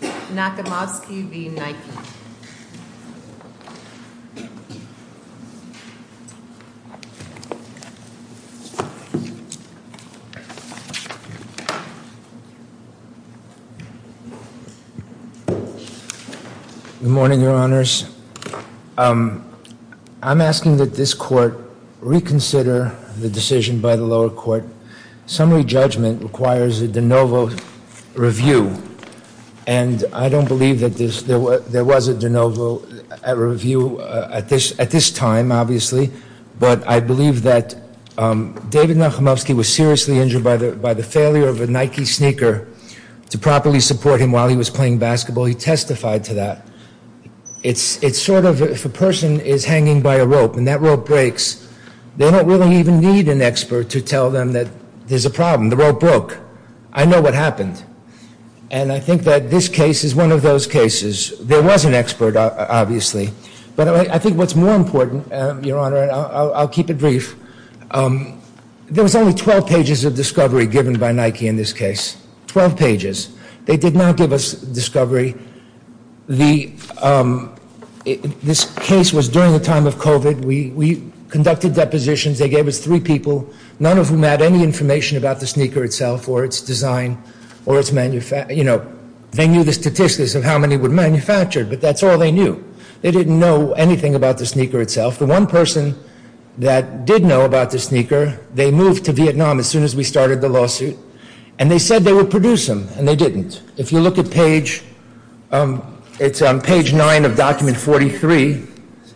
Good morning, your honors. I'm asking that this court reconsider the decision by the I don't believe that there was a de novo at review at this time, obviously, but I believe that David Nachimovsky was seriously injured by the failure of a Nike sneaker to properly support him while he was playing basketball. He testified to that. It's sort of, if a person is hanging by a rope and that rope breaks, they don't really even need an expert to tell them that there's a problem. The rope broke. I know what happened. And I think that this case is one of those cases. There was an expert, obviously, but I think what's more important, your honor, I'll keep it brief. There was only 12 pages of discovery given by Nike in this case, 12 pages. They did not give us discovery. The, this case was during the time of COVID. We, we conducted depositions. They gave us three people, none of whom had any information about the sneaker itself or its design or its manufacture. You know, they knew the statistics of how many were manufactured, but that's all they knew. They didn't know anything about the sneaker itself. The one person that did know about the sneaker, they moved to Vietnam as soon as we started the lawsuit and they said they would produce them and they didn't. If you look at page, it's on page nine of document 43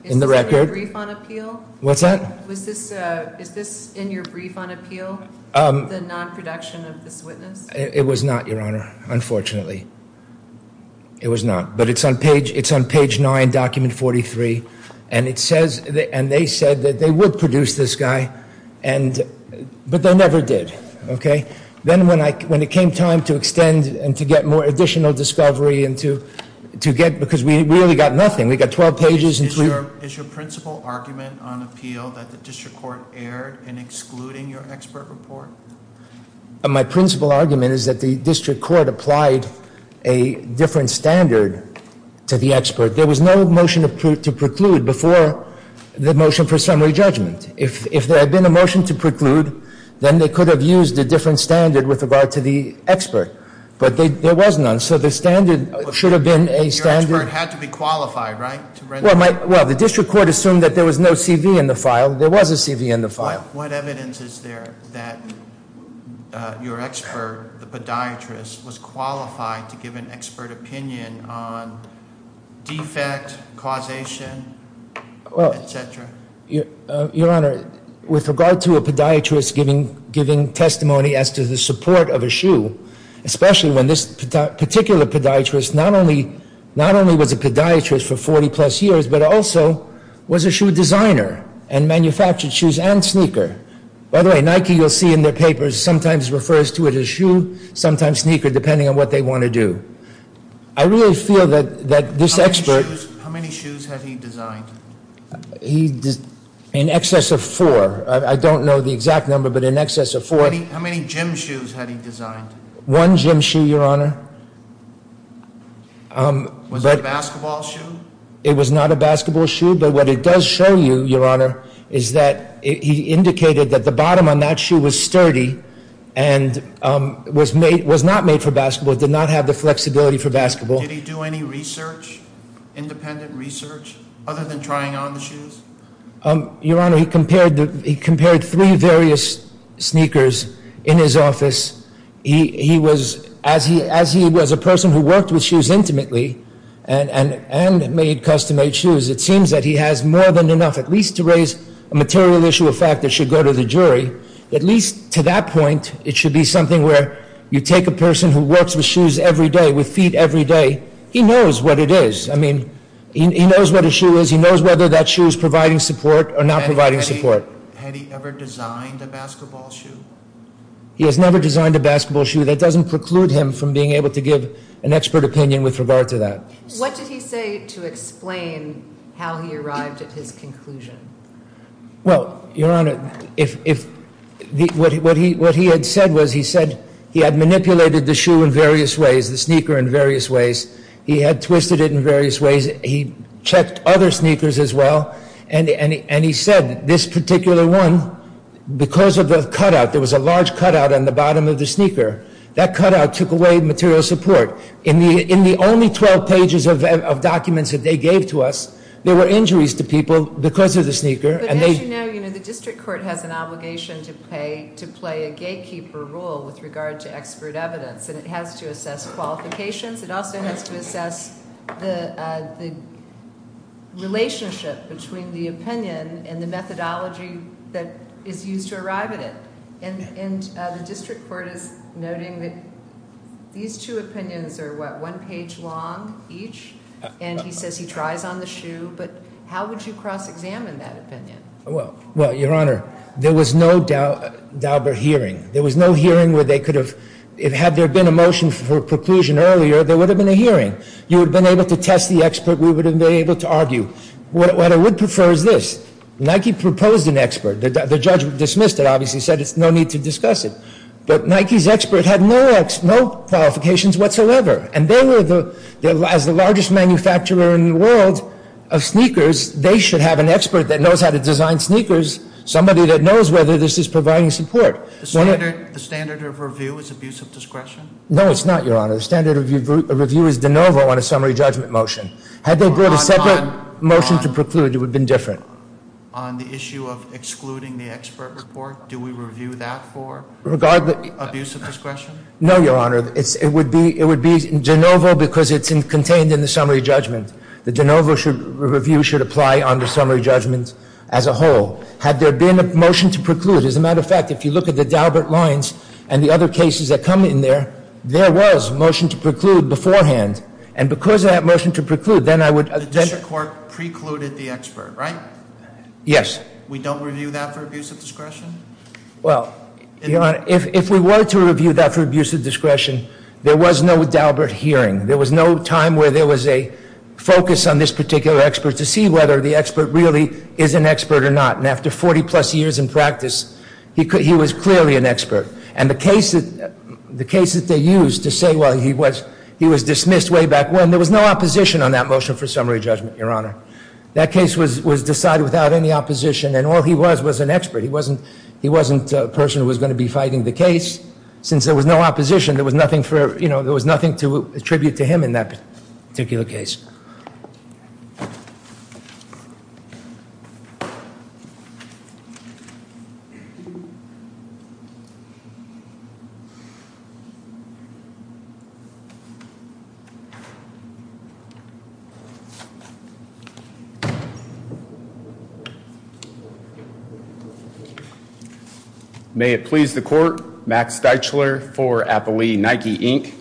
in the record. Is this in your brief on appeal? What's that? Was this, is this in your brief on appeal? The non-production of this witness? It was not, your honor, unfortunately. It was not, but it's on page, it's on page nine, document 43 and it says, and they said that they would produce this guy and, but they never did. Okay. Then when I, when it came time to extend and to get more additional discovery and to, to get, because we really got nothing. We got 12 pages. Is your principal argument on appeal that the district court erred in excluding your expert report? My principal argument is that the district court applied a different standard to the expert. There was no motion to preclude before the motion for summary judgment. If, if there had been a motion to preclude, then they could have used a different standard with regard to the expert, but they, there was none. So the standard should have been a standard. Your expert had to be qualified, right? Well, my, well, the district court assumed that there was no CV in the file. There was a CV in the file. What evidence is there that your expert, the podiatrist, was qualified to give an expert opinion on defect, causation, et cetera? Well, Your Honor, with regard to a podiatrist giving, giving testimony as to the support of a shoe, especially when this particular podiatrist not only, not only was a podiatrist for 40 plus years, but also was a shoe designer and manufactured shoes and sneaker. By the way, Nike, you'll see in their papers, sometimes refers to it as shoe, sometimes sneaker, depending on what they want to do. I really feel that, that this expert... How many shoes, how many shoes had he designed? He, in excess of four. I, I don't know the exact number, but in excess of four. How many, how many gym shoes had he designed? One gym shoe, Your Honor. Was it a basketball shoe? It was not a basketball shoe, but what it does show you, Your Honor, is that he indicated that the bottom on that shoe was sturdy and was made, was not made for basketball. It did not have the flexibility for basketball. Did he do any research, independent research, other than trying on the shoes? Your Honor, he compared the, he compared three various sneakers in his office. He, he was, as he, as he was a person who worked with shoes intimately and, and, and made custom-made shoes, it seems that he has more than enough at least to raise a material issue of fact that should go to the jury. At least to that point, it should be something where you take a person who works with day, with feet every day, he knows what it is. I mean, he knows what a shoe is. He knows whether that shoe is providing support or not providing support. Had he ever designed a basketball shoe? He has never designed a basketball shoe. That doesn't preclude him from being able to give an expert opinion with regard to that. What did he say to explain how he arrived at his conclusion? Well, Your Honor, if, if what he, what he, what he had said was he said he had manipulated the sneaker in various ways. He had twisted it in various ways. He checked other sneakers as well. And, and, and he said this particular one, because of the cutout, there was a large cutout on the bottom of the sneaker, that cutout took away material support. In the, in the only 12 pages of, of documents that they gave to us, there were injuries to people because of the sneaker. But as you know, you know, the district court has an obligation to pay, to play a gatekeeper rule with regard to expert evidence. And it has to assess qualifications. It also has to assess the, the relationship between the opinion and the methodology that is used to arrive at it. And, and the district court is noting that these two opinions are what, one page long each? And he says he tries on the shoe, but how would you cross-examine that opinion? Well, well, Your Honor, there was no Dauber hearing. There was no hearing where they could have, if, had there been a motion for preclusion earlier, there would have been a hearing. You would have been able to test the expert. We would have been able to argue. What, what I would prefer is this. Nike proposed an expert. The, the judge dismissed it, obviously said it's no need to discuss it. But Nike's expert had no ex-, no qualifications whatsoever. And they were the, the, as the largest manufacturer in the world of sneakers, they should have an expert that knows how to design sneakers, somebody that knows whether this is providing support. The standard, the standard of review is abuse of discretion? No, it's not, Your Honor. The standard of review is de novo on a summary judgment motion. Had they brought a separate motion to preclude, it would have been different. On the issue of excluding the expert report, do we review that for? Regardless. Abuse of discretion? No, Your Honor. It's, it would be, it would be de novo because it's contained in the summary judgment. The de novo should, review should apply on the summary judgment as a whole. Had there been a motion to preclude, as a matter of fact, if you look at the Daubert lines and the other cases that come in there, there was a motion to preclude beforehand. And because of that motion to preclude, then I would. The district court precluded the expert, right? Yes. We don't review that for abuse of discretion? Well, Your Honor, if, if we were to review that for abuse of discretion, there was no Daubert hearing. There was no time where there was a focus on this particular expert to see whether the expert really is an expert or not. And after 40 plus years in practice, he could, he was clearly an expert. And the case that, the case that they used to say, well, he was, he was dismissed way back when, there was no opposition on that motion for summary judgment, Your Honor. That case was, was decided without any opposition. And all he was, was an expert. He wasn't, he wasn't a person who was going to be fighting the case. Since there was no opposition, there was nothing for, you know, there was nothing to attribute to him in that particular case. Okay. May it please the court. Max Deitchler for Appalooie Nike Inc.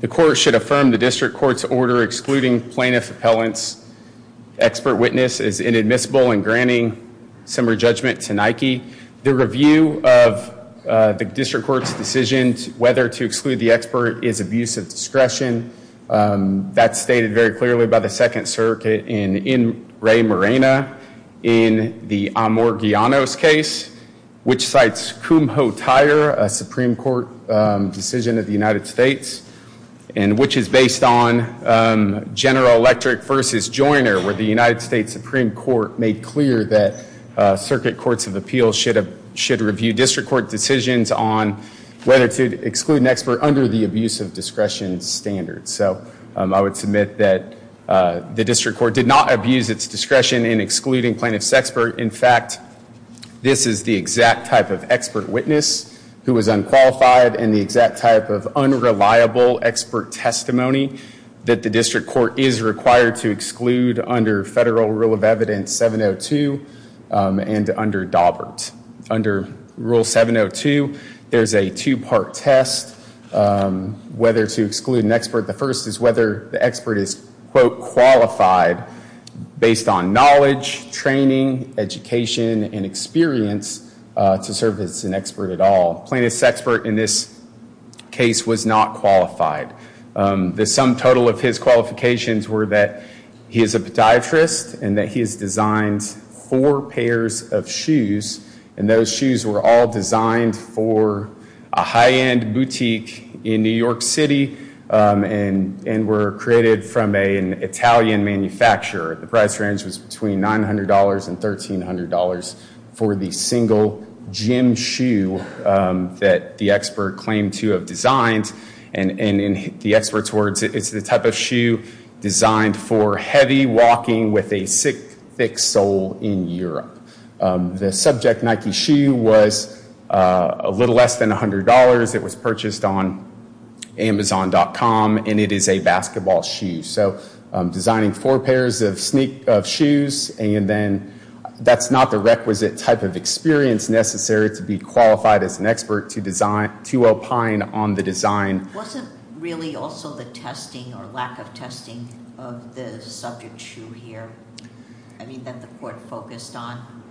The court should affirm the district court's order excluding plaintiff appellants. Expert witness is inadmissible in granting summary judgment to Nike. The review of the district court's decisions whether to exclude the expert is abuse of discretion. That's stated very clearly by the second circuit in, in Ray Morena in the Amor-Guianos case, which cites Kumho-Tyre, a Supreme Court decision of the United States. And which is based on General Electric versus Joyner, where the United States Supreme Court made clear that circuit courts of appeals should have, should review district court decisions on whether to exclude an expert under the abuse of discretion standard. So I would submit that the district court did not abuse its discretion in excluding plaintiff's expert. In fact, this is the exact type of expert witness who was unqualified and the exact type of unreliable expert testimony that the district court is required to exclude under Federal Rule of Evidence 702 and under Daubert. Under Rule 702, there's a two-part test whether to exclude an expert. The first is whether the expert is, quote, qualified based on knowledge, training, education, and experience to serve as an expert at all. Plaintiff's expert in this case was not qualified. The sum total of his qualifications were that he is a podiatrist and that he has designed four pairs of shoes and those shoes were all designed for a high-end boutique in New York City and were created from an Italian manufacturer. The price range was between $900 and $1,300 for the single gym shoe that the expert claimed to have designed. And in the expert's words, it's the type of shoe designed for heavy walking with a thick sole in Europe. The subject Nike shoe was a little less than $100. It was purchased on Amazon.com and it is a basketball shoe. So designing four pairs of shoes and then that's not the requisite type of experience necessary to be qualified as an expert to opine on the design. Wasn't really also the testing or lack of testing of the subject shoe here? I mean, that the court focused on?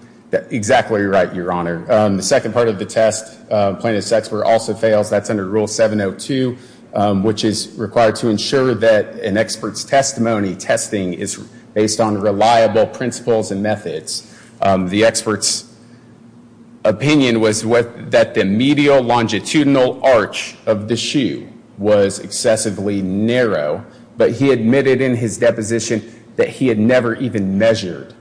Exactly right, Your Honor. The second part of the test plaintiff's expert also fails. That's under Rule 702, which is required to ensure that an expert's testimony testing is based on reliable principles and methods. The expert's opinion was that the medial longitudinal arch of the shoe was excessively narrow, but he admitted in his deposition that he had never even measured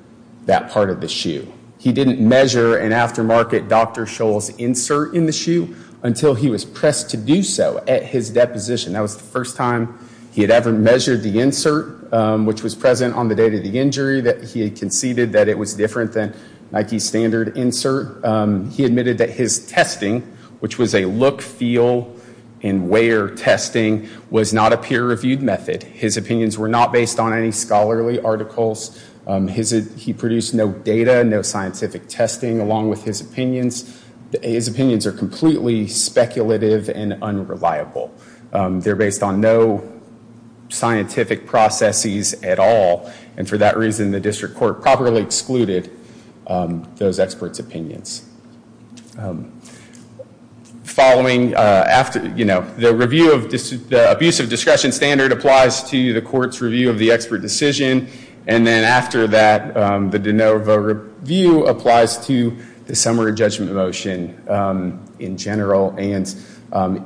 that part of the shoe. He didn't measure an aftermarket Dr. Scholl's insert in the shoe until he was pressed to do so at his deposition. That was the first time he had ever measured the insert, which was present on the day of the injury, that he conceded that it was different than Nike's standard insert. He admitted that his testing, which was a look, feel, and wear testing, was not a peer reviewed method. His opinions were not based on any scholarly articles. His, he produced no data, no scientific testing, along with his opinions. His opinions are completely speculative and unreliable. They're based on no scientific processes at all, and for that reason, the district court properly excluded those experts' opinions. Following, after, you know, the review of, the abuse of discretion standard applies to the court's review of the expert decision, and then after that, the de novo review applies to the summary judgment motion in general. And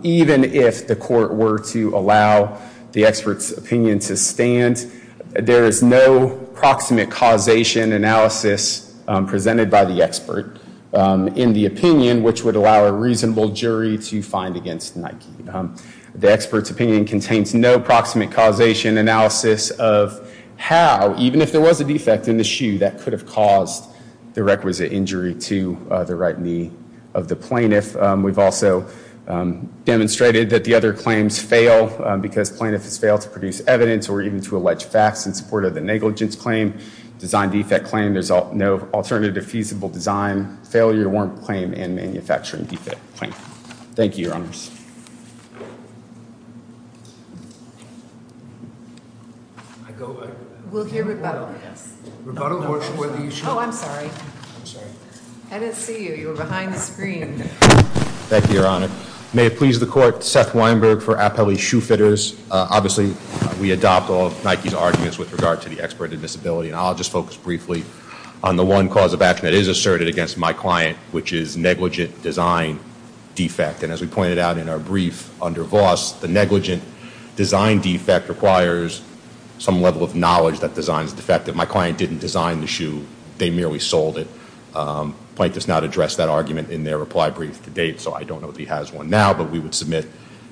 even if the court were to allow the expert's opinion to stand, there is no proximate causation analysis presented by the expert in the opinion, which would allow a reasonable jury to find against Nike. The expert's opinion contains no proximate causation analysis of how, even if there was a defect in the shoe, that could have caused the requisite injury to the right knee of the plaintiff. We've also demonstrated that the other claims fail because plaintiffs fail to produce evidence or even to allege facts in support of the negligence claim, design defect claim. There's no alternative feasible design, failure to warrant claim, and manufacturing defect claim. Thank you, Your Honors. We'll hear rebuttal, I guess. Rebuttal works for the issue. Oh, I'm sorry. I'm sorry. I didn't see you. You were behind the screen. Thank you, Your Honor. May it please the court, Seth Weinberg for Appellee Shoe Fitters. Obviously, we adopt all of Nike's arguments with regard to the expert in disability, and I'll just focus briefly on the one cause of action that is asserted against my client, which is negligent design defect. As we pointed out in our brief under Voss, the negligent design defect requires some level of knowledge that designs defect. If my client didn't design the shoe, they merely sold it. The plaintiff has not addressed that argument in their reply brief to date, so I don't know if he has one now, but we would submit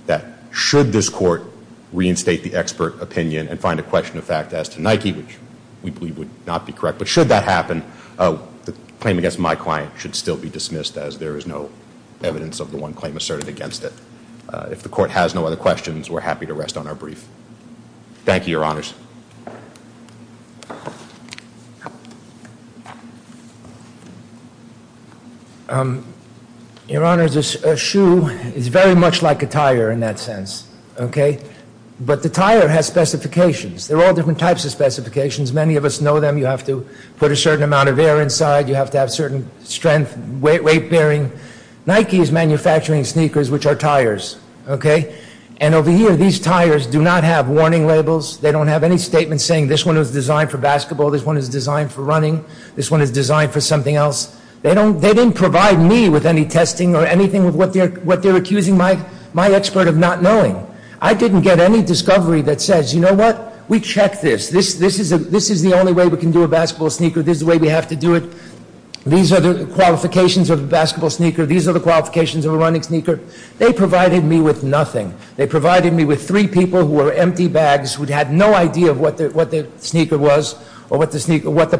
that should this court reinstate the expert opinion and find a question of fact as to Nike, which we believe would not be correct, but should that happen, the claim against my client should still be dismissed as there is no evidence of the one claim asserted against it. If the court has no other questions, we're happy to rest on our brief. Thank you, Your Honors. Your Honors, a shoe is very much like a tire in that sense, okay? But the tire has specifications. There are all different types of specifications. Many of us know them. You have to put a certain amount of air inside. You have to have certain strength, weight bearing. Nike is manufacturing sneakers, which are tires, okay? And over here, these tires do not have warning labels. They don't have any statements saying this one is designed for basketball, this one is designed for running, this one is designed for something else. They didn't provide me with any testing or anything of what they're accusing my expert of not knowing. I didn't get any discovery that says, you know what? We checked this. This is the only way we can do a basketball sneaker. This is the way we have to do it. These are the qualifications of a basketball sneaker. These are the qualifications of a running sneaker. They provided me with nothing. They provided me with three people who were empty bags, who had no idea what the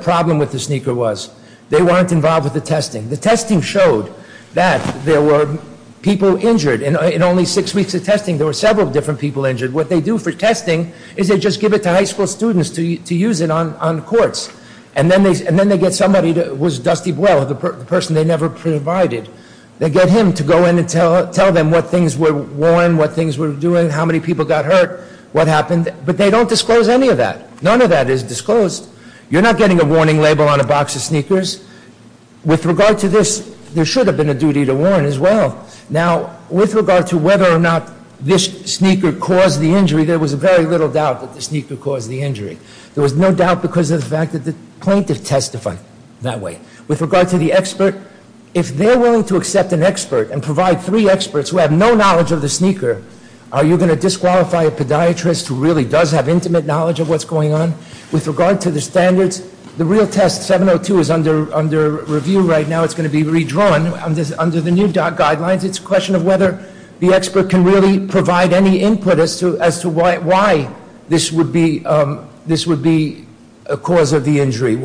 problem with the sneaker was. They weren't involved with the testing. The testing showed that there were people injured. In only six weeks of testing, there were several different people injured. What they do for testing is they just give it to high school students to use it on courts, and then they get somebody who was Dusty Buell, the person they never provided. They get him to go in and tell them what things were worn, what things were doing, how many people got hurt, what happened, but they don't disclose any of that. None of that is disclosed. You're not getting a warning label on a box of sneakers. With regard to this, there should have been a duty to warn as well. Now, with regard to whether or not this sneaker caused the injury, there was very little doubt that the sneaker caused the injury. There was no doubt because of the fact that the plaintiff testified that way. With regard to the expert, if they're willing to accept an expert and provide three experts who have no knowledge of the sneaker, are you going to disqualify a podiatrist who really does have intimate knowledge of what's going on? With regard to the standards, the real test, 702, is under review right now. It's going to be redrawn under the new guidelines. It's a question of whether the expert can really provide any input as to why this would be a cause of the injury.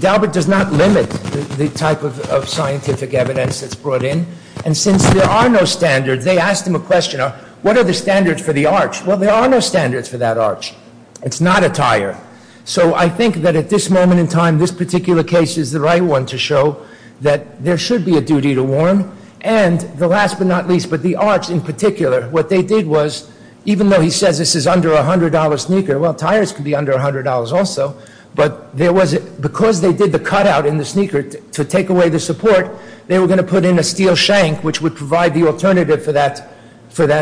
Daubert does not limit the type of scientific evidence that's brought in. Since there are no standards, they asked him a question. What are the standards for the arch? Well, there are no standards for that arch. It's not a tire. I think that at this moment in time, this particular case is the right one to show that there should be a duty to warn. And the last but not least, but the arch in particular, what they did was, even though he says this is under a $100 sneaker, well, tires could be under $100 also. But because they did the cutout in the sneaker to take away the support, they were going to put in a steel shank, which would provide the alternative for the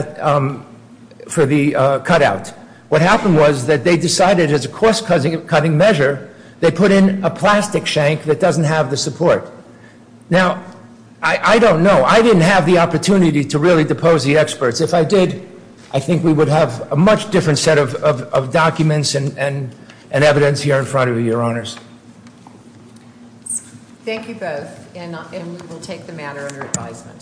cutout. What happened was that they decided as a cost cutting measure, they put in a plastic shank that doesn't have the support. Now, I don't know. I didn't have the opportunity to really depose the experts. If I did, I think we would have a much different set of documents and evidence here in front of you, Your Honors. Thank you both, and we will take the matter under advisement.